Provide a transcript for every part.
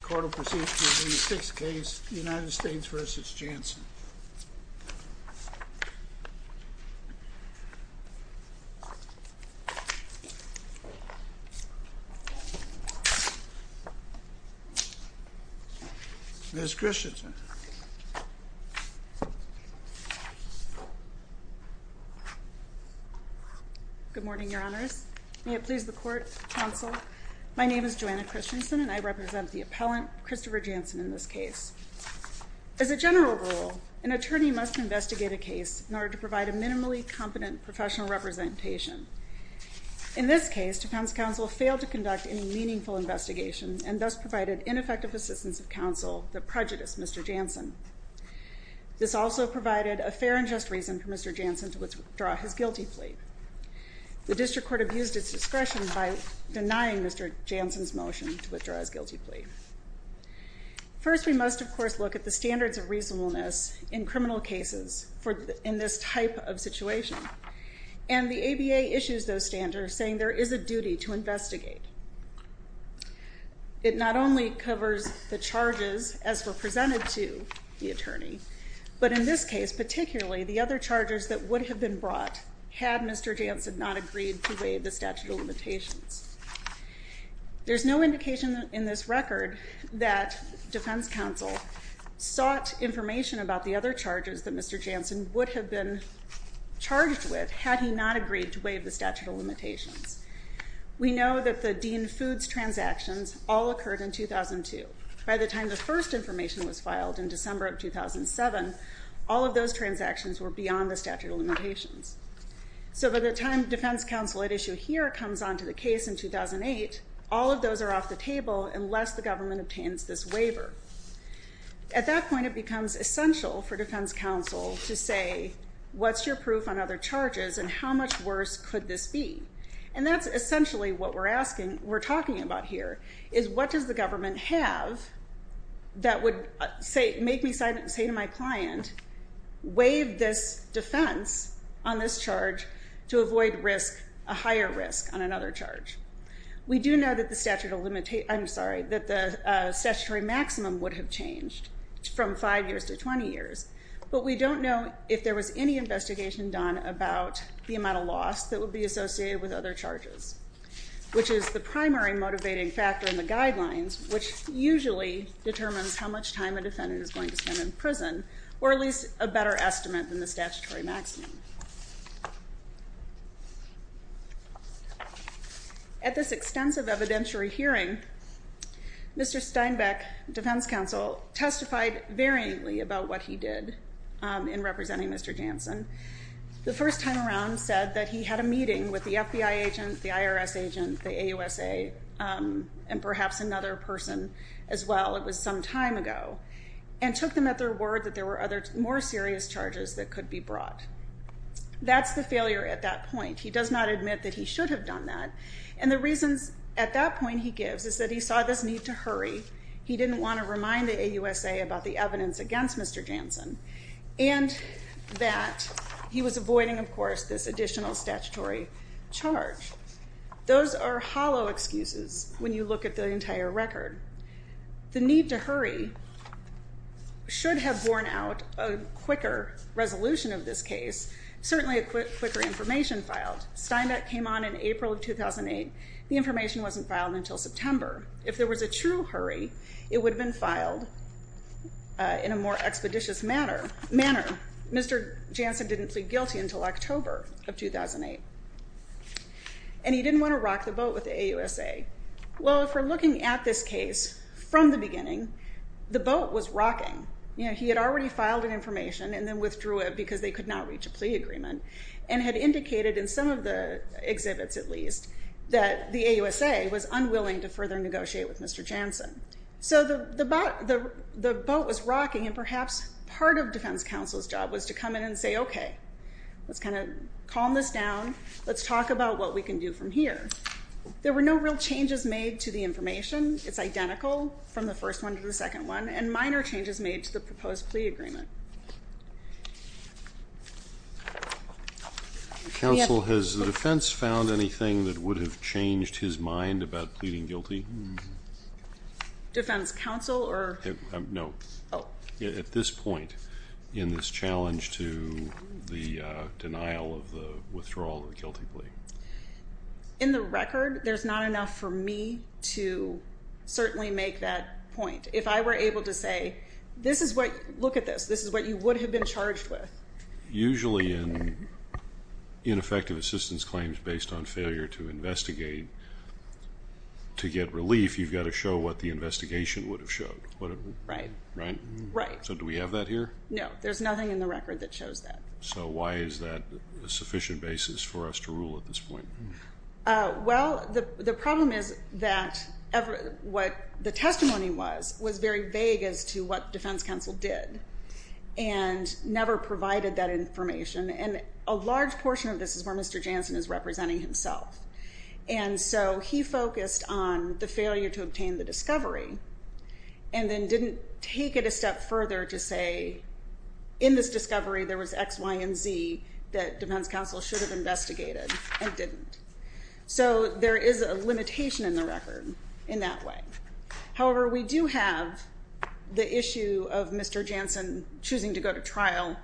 The court will proceed to the sixth case, United States v. Jansen. Ms. Christensen. Good morning, your honors. May it please the court, counsel. My name is Joanna Christensen and I represent the appellant, Christopher Jansen, in this case. As a general rule, an attorney must investigate a case in order to provide a minimally competent professional representation. In this case, defense counsel failed to conduct any meaningful investigation and thus provided ineffective assistance of counsel that prejudiced Mr. Jansen. This also provided a fair and just reason for Mr. Jansen to withdraw his guilty plea. The district court abused its discretion by denying Mr. Jansen's motion to withdraw his guilty plea. First, we must, of course, look at the standards of reasonableness in criminal cases in this type of situation. And the ABA issues those standards, saying there is a duty to investigate. It not only covers the charges as were presented to the attorney, but in this case, particularly, the other charges that would have been brought had Mr. Jansen not agreed to waive the statute of limitations. There's no indication in this record that defense counsel sought information about the other charges that Mr. Jansen would have been charged with had he not agreed to waive the statute of limitations. We know that the Dean Foods transactions all occurred in 2002. By the time the first information was filed in December of 2007, all of those transactions were beyond the statute of limitations. So by the time defense counsel at issue here comes onto the case in 2008, all of those are off the table unless the government obtains this waiver. At that point, it becomes essential for defense counsel to say, what's your proof on other charges and how much worse could this be? And that's essentially what we're talking about here, is what does the government have that would make me say to my client, waive this defense on this charge to avoid a higher risk on another charge? We do know that the statutory maximum would have changed from five years to 20 years, but we don't know if there was any investigation done about the amount of loss that would be associated with other charges, which is the primary motivating factor in the guidelines, which usually determines how much time a defendant is going to spend in prison, or at least a better estimate than the statutory maximum. At this extensive evidentiary hearing, Mr. Steinbeck, defense counsel, testified variantly about what he did in representing Mr. Jansen. The first time around said that he had a meeting with the FBI agent, the IRS agent, the AUSA, and perhaps another person as well. It was some time ago, and took them at their word that there were other more serious charges that could be brought. That's the failure at that point. He does not admit that he should have done that, and the reasons at that point he gives is that he saw this need to hurry. He didn't want to remind the AUSA about the evidence against Mr. Jansen, and that he was avoiding, of course, this additional statutory charge. Those are hollow excuses when you look at the entire record. The need to hurry should have borne out a quicker resolution of this case, certainly a quicker information filed. Steinbeck came on in April of 2008. The information wasn't filed until September. If there was a true hurry, it would have been filed in a more expeditious manner. Mr. Jansen didn't plead guilty until October of 2008, and he didn't want to rock the boat with the AUSA. If we're looking at this case from the beginning, the boat was rocking. He had already filed an information and then withdrew it because they could not reach a plea agreement, and had indicated in some of the exhibits, at least, that the AUSA was unwilling to further negotiate with Mr. Jansen. The boat was rocking, and perhaps part of defense counsel's job was to come in and say, okay, let's kind of calm this down. Let's talk about what we can do from here. There were no real changes made to the information. It's identical from the first one to the second one, and minor changes made to the proposed plea agreement. Counsel, has the defense found anything that would have changed his mind about pleading guilty? Defense counsel or? No. Oh. At this point, in this challenge to the denial of the withdrawal of the guilty plea. In the record, there's not enough for me to certainly make that point. If I were able to say, look at this, this is what you would have been charged with. Usually in ineffective assistance claims based on failure to investigate, to get relief, you've got to show what the investigation would have showed. Right. Right? Right. So do we have that here? No. There's nothing in the record that shows that. So why is that a sufficient basis for us to rule at this point? Well, the problem is that what the testimony was, was very vague as to what defense counsel did, and never provided that information. And a large portion of this is where Mr. Jansen is representing himself. And so he focused on the failure to obtain the discovery, and then didn't take it a step further to say in this discovery there was X, Y, and Z that defense counsel should have investigated and didn't. So there is a limitation in the record in that way. However, we do have the issue of Mr. Jansen choosing to go to trial.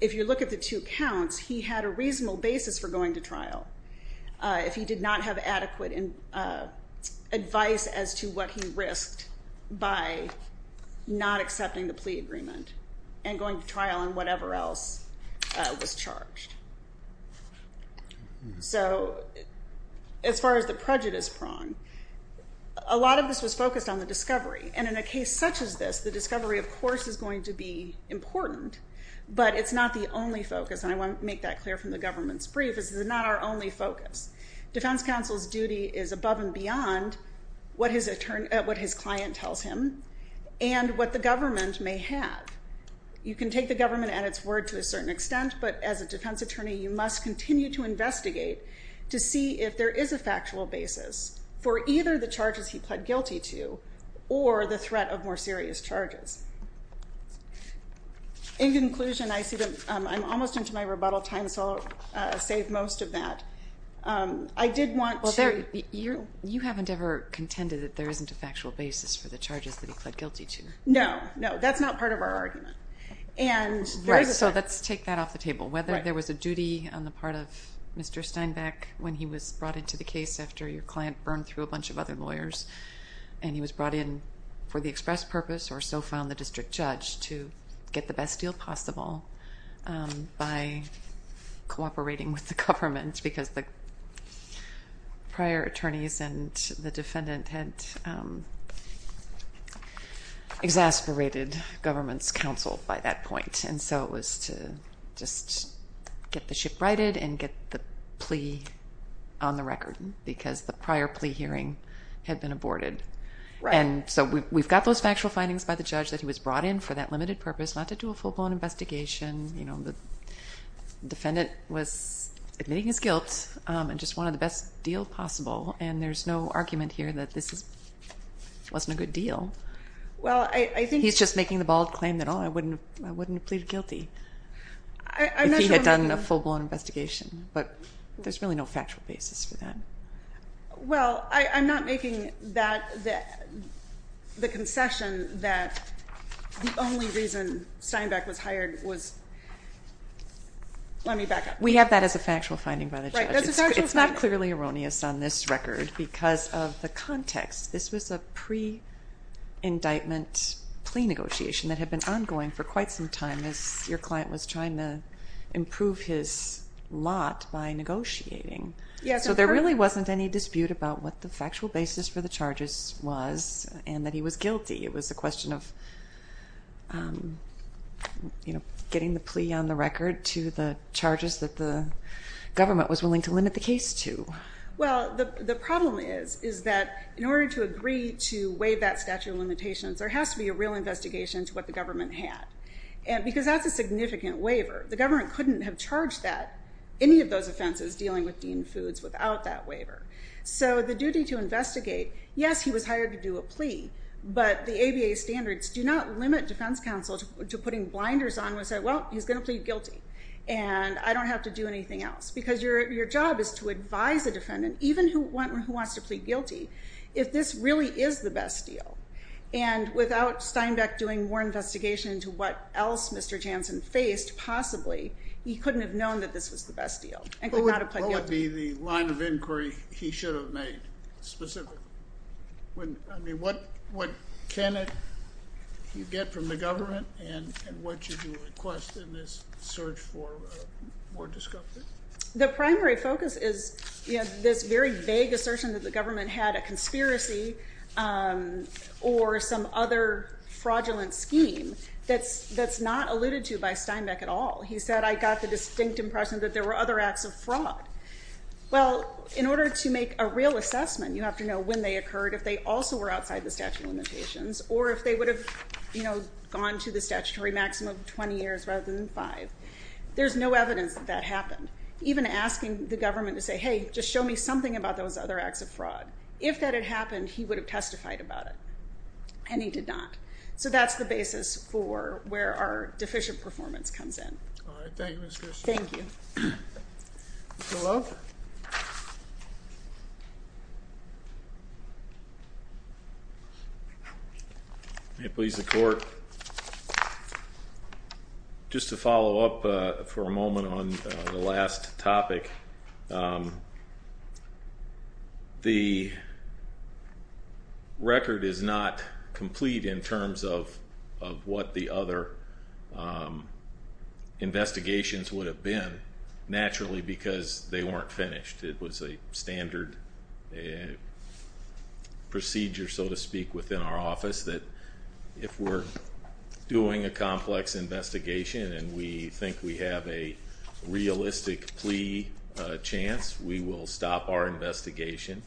If you look at the two counts, he had a reasonable basis for going to trial if he did not have adequate advice as to what he risked by not accepting the plea agreement and going to trial on whatever else was charged. So as far as the prejudice prong, a lot of this was focused on the discovery. And in a case such as this, the discovery, of course, is going to be important. But it's not the only focus, and I want to make that clear from the government's brief. This is not our only focus. Defense counsel's duty is above and beyond what his client tells him and what the government may have. You can take the government at its word to a certain extent, but as a defense attorney, you must continue to investigate to see if there is a factual basis for either the charges he pled guilty to or the threat of more serious charges. In conclusion, I see that I'm almost into my rebuttal time, so I'll save most of that. I did want to – Well, you haven't ever contended that there isn't a factual basis for the charges that he pled guilty to. No, no, that's not part of our argument. Right, so let's take that off the table. Whether there was a duty on the part of Mr. Steinbeck when he was brought into the case after your client burned through a bunch of other lawyers and he was brought in for the express purpose or so found the district judge to get the best deal possible by cooperating with the government because the prior attorneys and the defendant had exasperated government's counsel by that point. And so it was to just get the ship righted and get the plea on the record because the prior plea hearing had been aborted. And so we've got those factual findings by the judge that he was brought in for that limited purpose, not to do a full-blown investigation. The defendant was admitting his guilt and just wanted the best deal possible, and there's no argument here that this wasn't a good deal. He's just making the bold claim that, oh, I wouldn't have pleaded guilty if he had done a full-blown investigation. But there's really no factual basis for that. Well, I'm not making the concession that the only reason Steinbeck was hired was let me back up. We have that as a factual finding by the judge. It's not clearly erroneous on this record because of the context. This was a pre-indictment plea negotiation that had been ongoing for quite some time as your client was trying to improve his lot by negotiating. So there really wasn't any dispute about what the factual basis for the charges was and that he was guilty. It was a question of getting the plea on the record to the charges that the government was willing to limit the case to. Well, the problem is that in order to agree to waive that statute of limitations, there has to be a real investigation into what the government had because that's a significant waiver. The government couldn't have charged any of those offenses dealing with Dean Foods without that waiver. But the ABA standards do not limit defense counsel to putting blinders on and say, well, he's going to plead guilty and I don't have to do anything else because your job is to advise a defendant, even who wants to plead guilty, if this really is the best deal. And without Steinbeck doing more investigation into what else Mr. Jansen faced, possibly he couldn't have known that this was the best deal and could not have pled guilty. What would be the line of inquiry he should have made specifically? I mean, what can you get from the government and what should you request in this search for more discovery? The primary focus is this very vague assertion that the government had a conspiracy or some other fraudulent scheme that's not alluded to by Steinbeck at all. He said, I got the distinct impression that there were other acts of fraud. Well, in order to make a real assessment, you have to know when they occurred, if they also were outside the statute of limitations, or if they would have gone to the statutory maximum of 20 years rather than five. There's no evidence that that happened. Even asking the government to say, hey, just show me something about those other acts of fraud. If that had happened, he would have testified about it, and he did not. So that's the basis for where our deficient performance comes in. All right. Thank you, Ms. Christian. Thank you. Mr. Lowe. May it please the Court, just to follow up for a moment on the last topic, the record is not complete in terms of what the other investigations would have been, naturally because they weren't finished. It was a standard procedure, so to speak, within our office, that if we're doing a complex investigation and we think we have a realistic plea chance, we will stop our investigation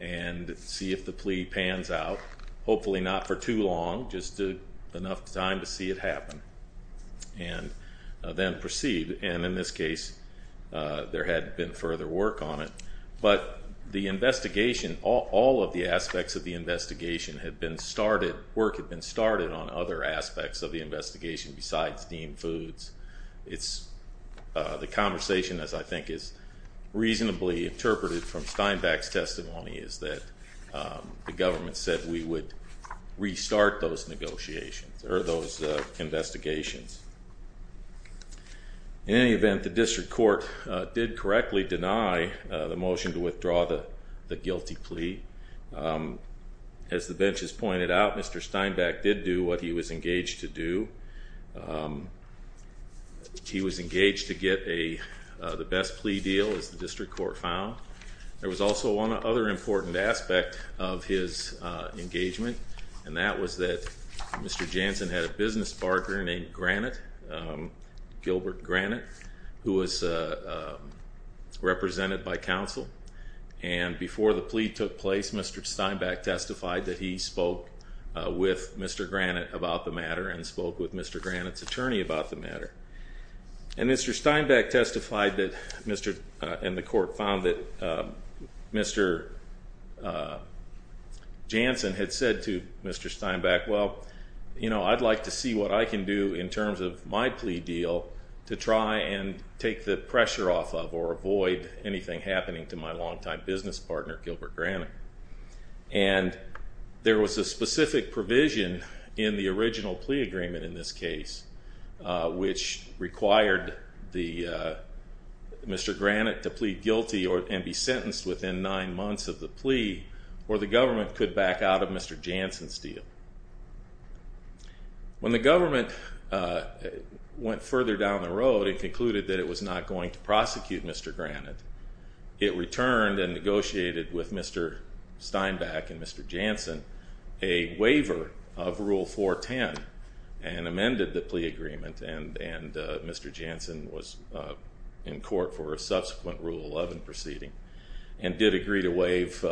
and see if the plea pans out, hopefully not for too long, just enough time to see it happen, and then proceed. And in this case, there had been further work on it. But the investigation, all of the aspects of the investigation had been started, on other aspects of the investigation besides steamed foods. The conversation, as I think is reasonably interpreted from Steinbeck's testimony, is that the government said we would restart those negotiations or those investigations. In any event, the District Court did correctly deny the motion to withdraw the guilty plea. As the benches pointed out, Mr. Steinbeck did do what he was engaged to do. He was engaged to get the best plea deal, as the District Court found. There was also one other important aspect of his engagement, and that was that Mr. Jansen had a business partner named Granite, Gilbert Granite, who was represented by counsel. And before the plea took place, Mr. Steinbeck testified that he spoke with Mr. Granite about the matter and spoke with Mr. Granite's attorney about the matter. And Mr. Steinbeck testified and the court found that Mr. Jansen had said to Mr. Steinbeck, well, you know, I'd like to see what I can do in terms of my plea deal to try and take the pressure off of or avoid anything happening to my longtime business partner, Gilbert Granite. And there was a specific provision in the original plea agreement in this case which required Mr. Granite to plead guilty and be sentenced within nine months of the plea or the government could back out of Mr. Jansen's deal. When the government went further down the road and concluded that it was not going to prosecute Mr. Granite, it returned and negotiated with Mr. Steinbeck and Mr. Jansen a waiver of Rule 410 and amended the plea agreement and Mr. Jansen was in court for a subsequent Rule 11 proceeding and did agree to waive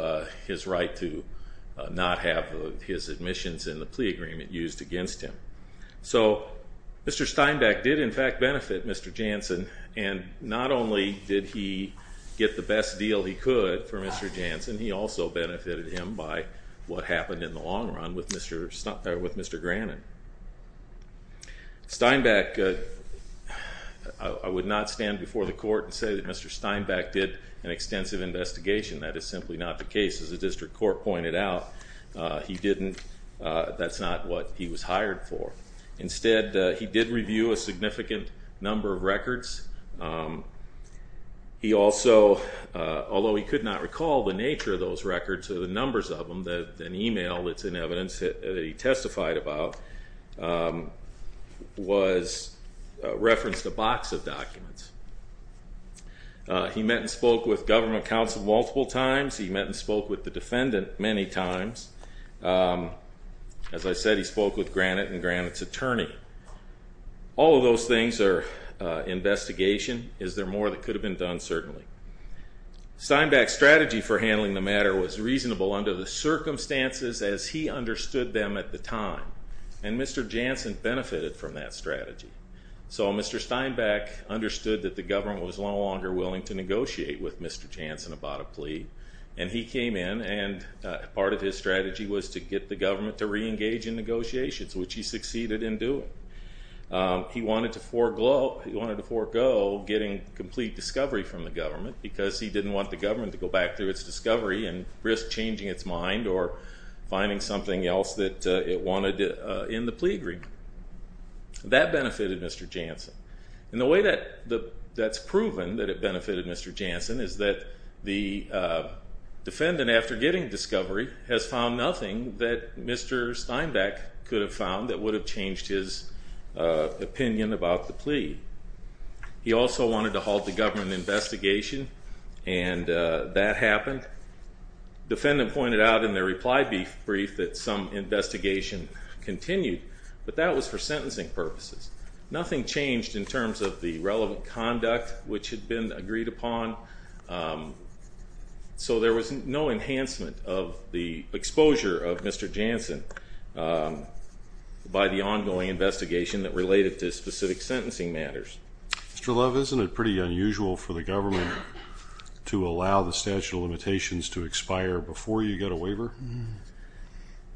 his right to not have his admissions in the plea agreement used against him. So Mr. Steinbeck did in fact benefit Mr. Jansen and not only did he get the best deal he could for Mr. Jansen, he also benefited him by what happened in the long run with Mr. Granite. Steinbeck, I would not stand before the court and say that Mr. Steinbeck did an extensive investigation. That is simply not the case. As the district court pointed out, he didn't, that's not what he was hired for. Instead, he did review a significant number of records. He also, although he could not recall the nature of those records or the numbers of them, an email that's in evidence that he testified about referenced a box of documents. He met and spoke with government counsel multiple times. He met and spoke with the defendant many times. As I said, he spoke with Granite and Granite's attorney. All of those things are investigation. Is there more that could have been done? Certainly. Steinbeck's strategy for handling the matter was reasonable under the circumstances as he understood them at the time. And Mr. Jansen benefited from that strategy. So Mr. Steinbeck understood that the government was no longer willing to negotiate with Mr. Jansen about a plea. And he came in and part of his strategy was to get the government to re-engage in negotiations, which he succeeded in doing. He wanted to forego getting complete discovery from the government because he didn't want the government to go back through its discovery and risk changing its mind or finding something else that it wanted in the plea agreement. That benefited Mr. Jansen. And the way that's proven that it benefited Mr. Jansen is that the defendant, after getting discovery, has found nothing that Mr. Steinbeck could have found that would have changed his opinion about the plea. He also wanted to halt the government investigation, and that happened. The defendant pointed out in their reply brief that some investigation continued, but that was for sentencing purposes. Nothing changed in terms of the relevant conduct, which had been agreed upon. So there was no enhancement of the exposure of Mr. Jansen by the ongoing investigation that related to specific sentencing matters. Mr. Love, isn't it pretty unusual for the government to allow the statute of limitations to expire before you get a waiver?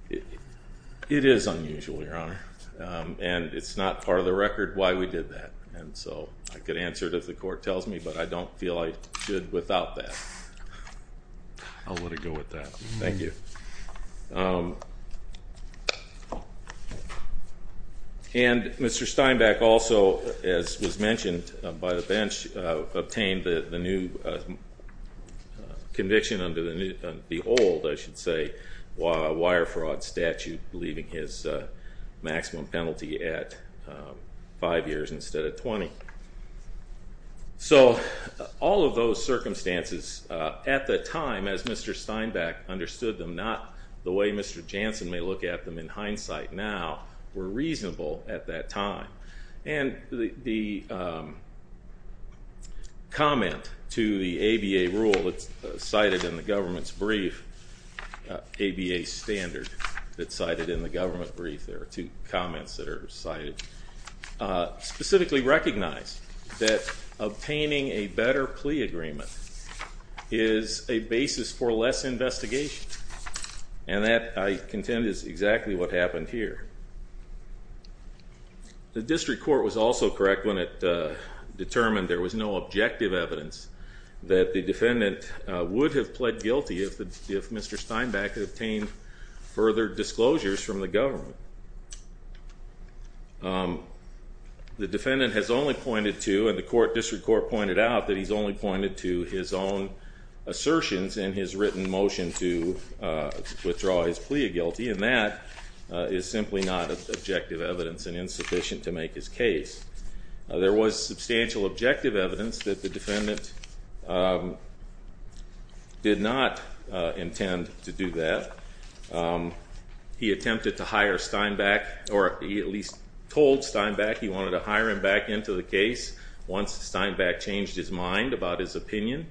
It is unusual, Your Honor, and it's not part of the record why we did that. And so I could answer it if the court tells me, but I don't feel I should without that. I'll let it go with that. Thank you. And Mr. Steinbeck also, as was mentioned by the bench, obtained the new conviction under the old, I should say, wire fraud statute, leaving his maximum penalty at five years instead of 20. So all of those circumstances at the time, as Mr. Steinbeck understood them, not the way Mr. Jansen may look at them in hindsight now, were reasonable at that time. And the comment to the ABA rule that's cited in the government's brief, ABA standard that's cited in the government brief, there are two comments that are cited, specifically recognize that obtaining a better plea agreement is a basis for less investigation. And that, I contend, is exactly what happened here. The district court was also correct when it determined there was no objective evidence that the defendant would have pled guilty if Mr. Steinbeck had obtained further disclosures from the government. The defendant has only pointed to, and the district court pointed out, that he's only pointed to his own assertions in his written motion to withdraw his plea of guilty, and that is simply not objective evidence and insufficient to make his case. There was substantial objective evidence that the defendant did not intend to do that. He attempted to hire Steinbeck, or he at least told Steinbeck he wanted to hire him back into the case once Steinbeck changed his mind about his opinion.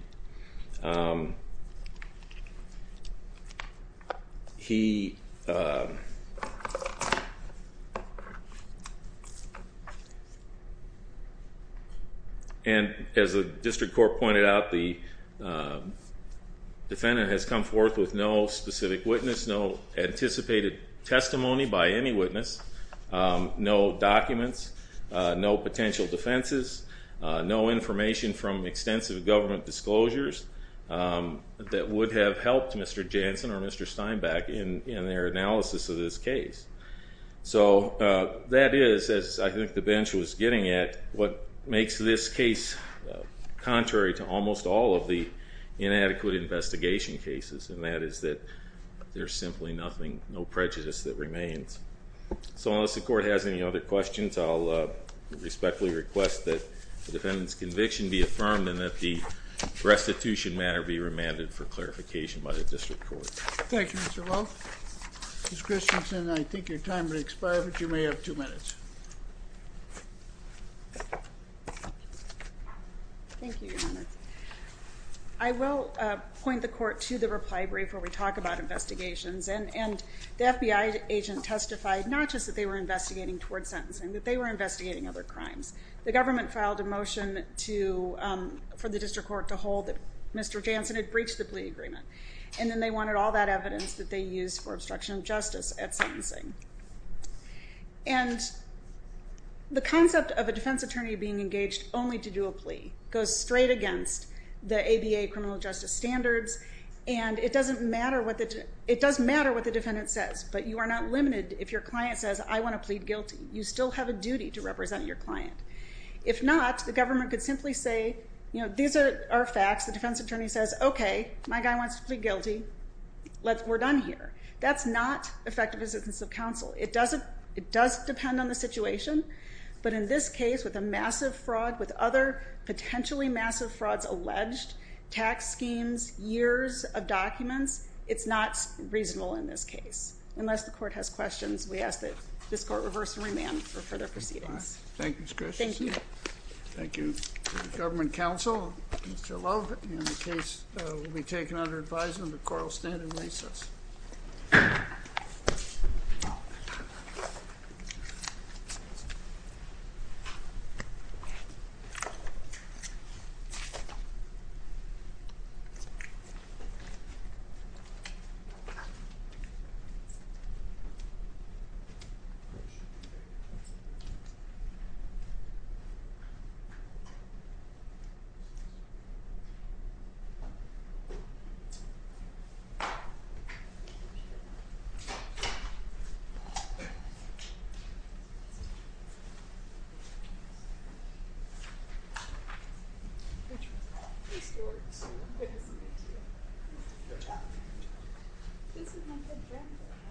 He, and as the district court pointed out, the defendant has come forth with no specific witness, no anticipated testimony by any witness, no documents, no potential defenses, no information from extensive government disclosures that would have helped Mr. Jansen or Mr. Steinbeck in their analysis of this case. So that is, as I think the bench was getting at, what makes this case contrary to almost all of the inadequate investigation cases, and that is that there's simply nothing, no prejudice that remains. So unless the court has any other questions, I'll respectfully request that the defendant's conviction be affirmed and that the restitution matter be remanded for clarification by the district court. Thank you, Mr. Lowe. Ms. Christensen, I think your time has expired, but you may have two minutes. Thank you, Your Honor. I will point the court to the reply brief where we talk about investigations, and the FBI agent testified not just that they were investigating towards sentencing, that they were investigating other crimes. The government filed a motion for the district court to hold that Mr. Jansen had breached the plea agreement, and then they wanted all that evidence that they used for obstruction of justice at sentencing. And the concept of a defense attorney being engaged only to do a plea goes straight against the ABA criminal justice standards, and it does matter what the defendant says, but you are not limited if your client says, I want to plead guilty. You still have a duty to represent your client. If not, the government could simply say, you know, these are facts. The defense attorney says, okay, my guy wants to plead guilty. We're done here. That's not effective assistance of counsel. It does depend on the situation, but in this case, with a massive fraud, with other potentially massive frauds alleged, tax schemes, years of documents, it's not reasonable in this case. Unless the court has questions, we ask that this court reverse and remand for further proceedings. Thank you, Ms. Christiansen. Thank you. Thank you. Government counsel, Mr. Love, and the case will be taken under advisement. The court will stand in recess. Thank you.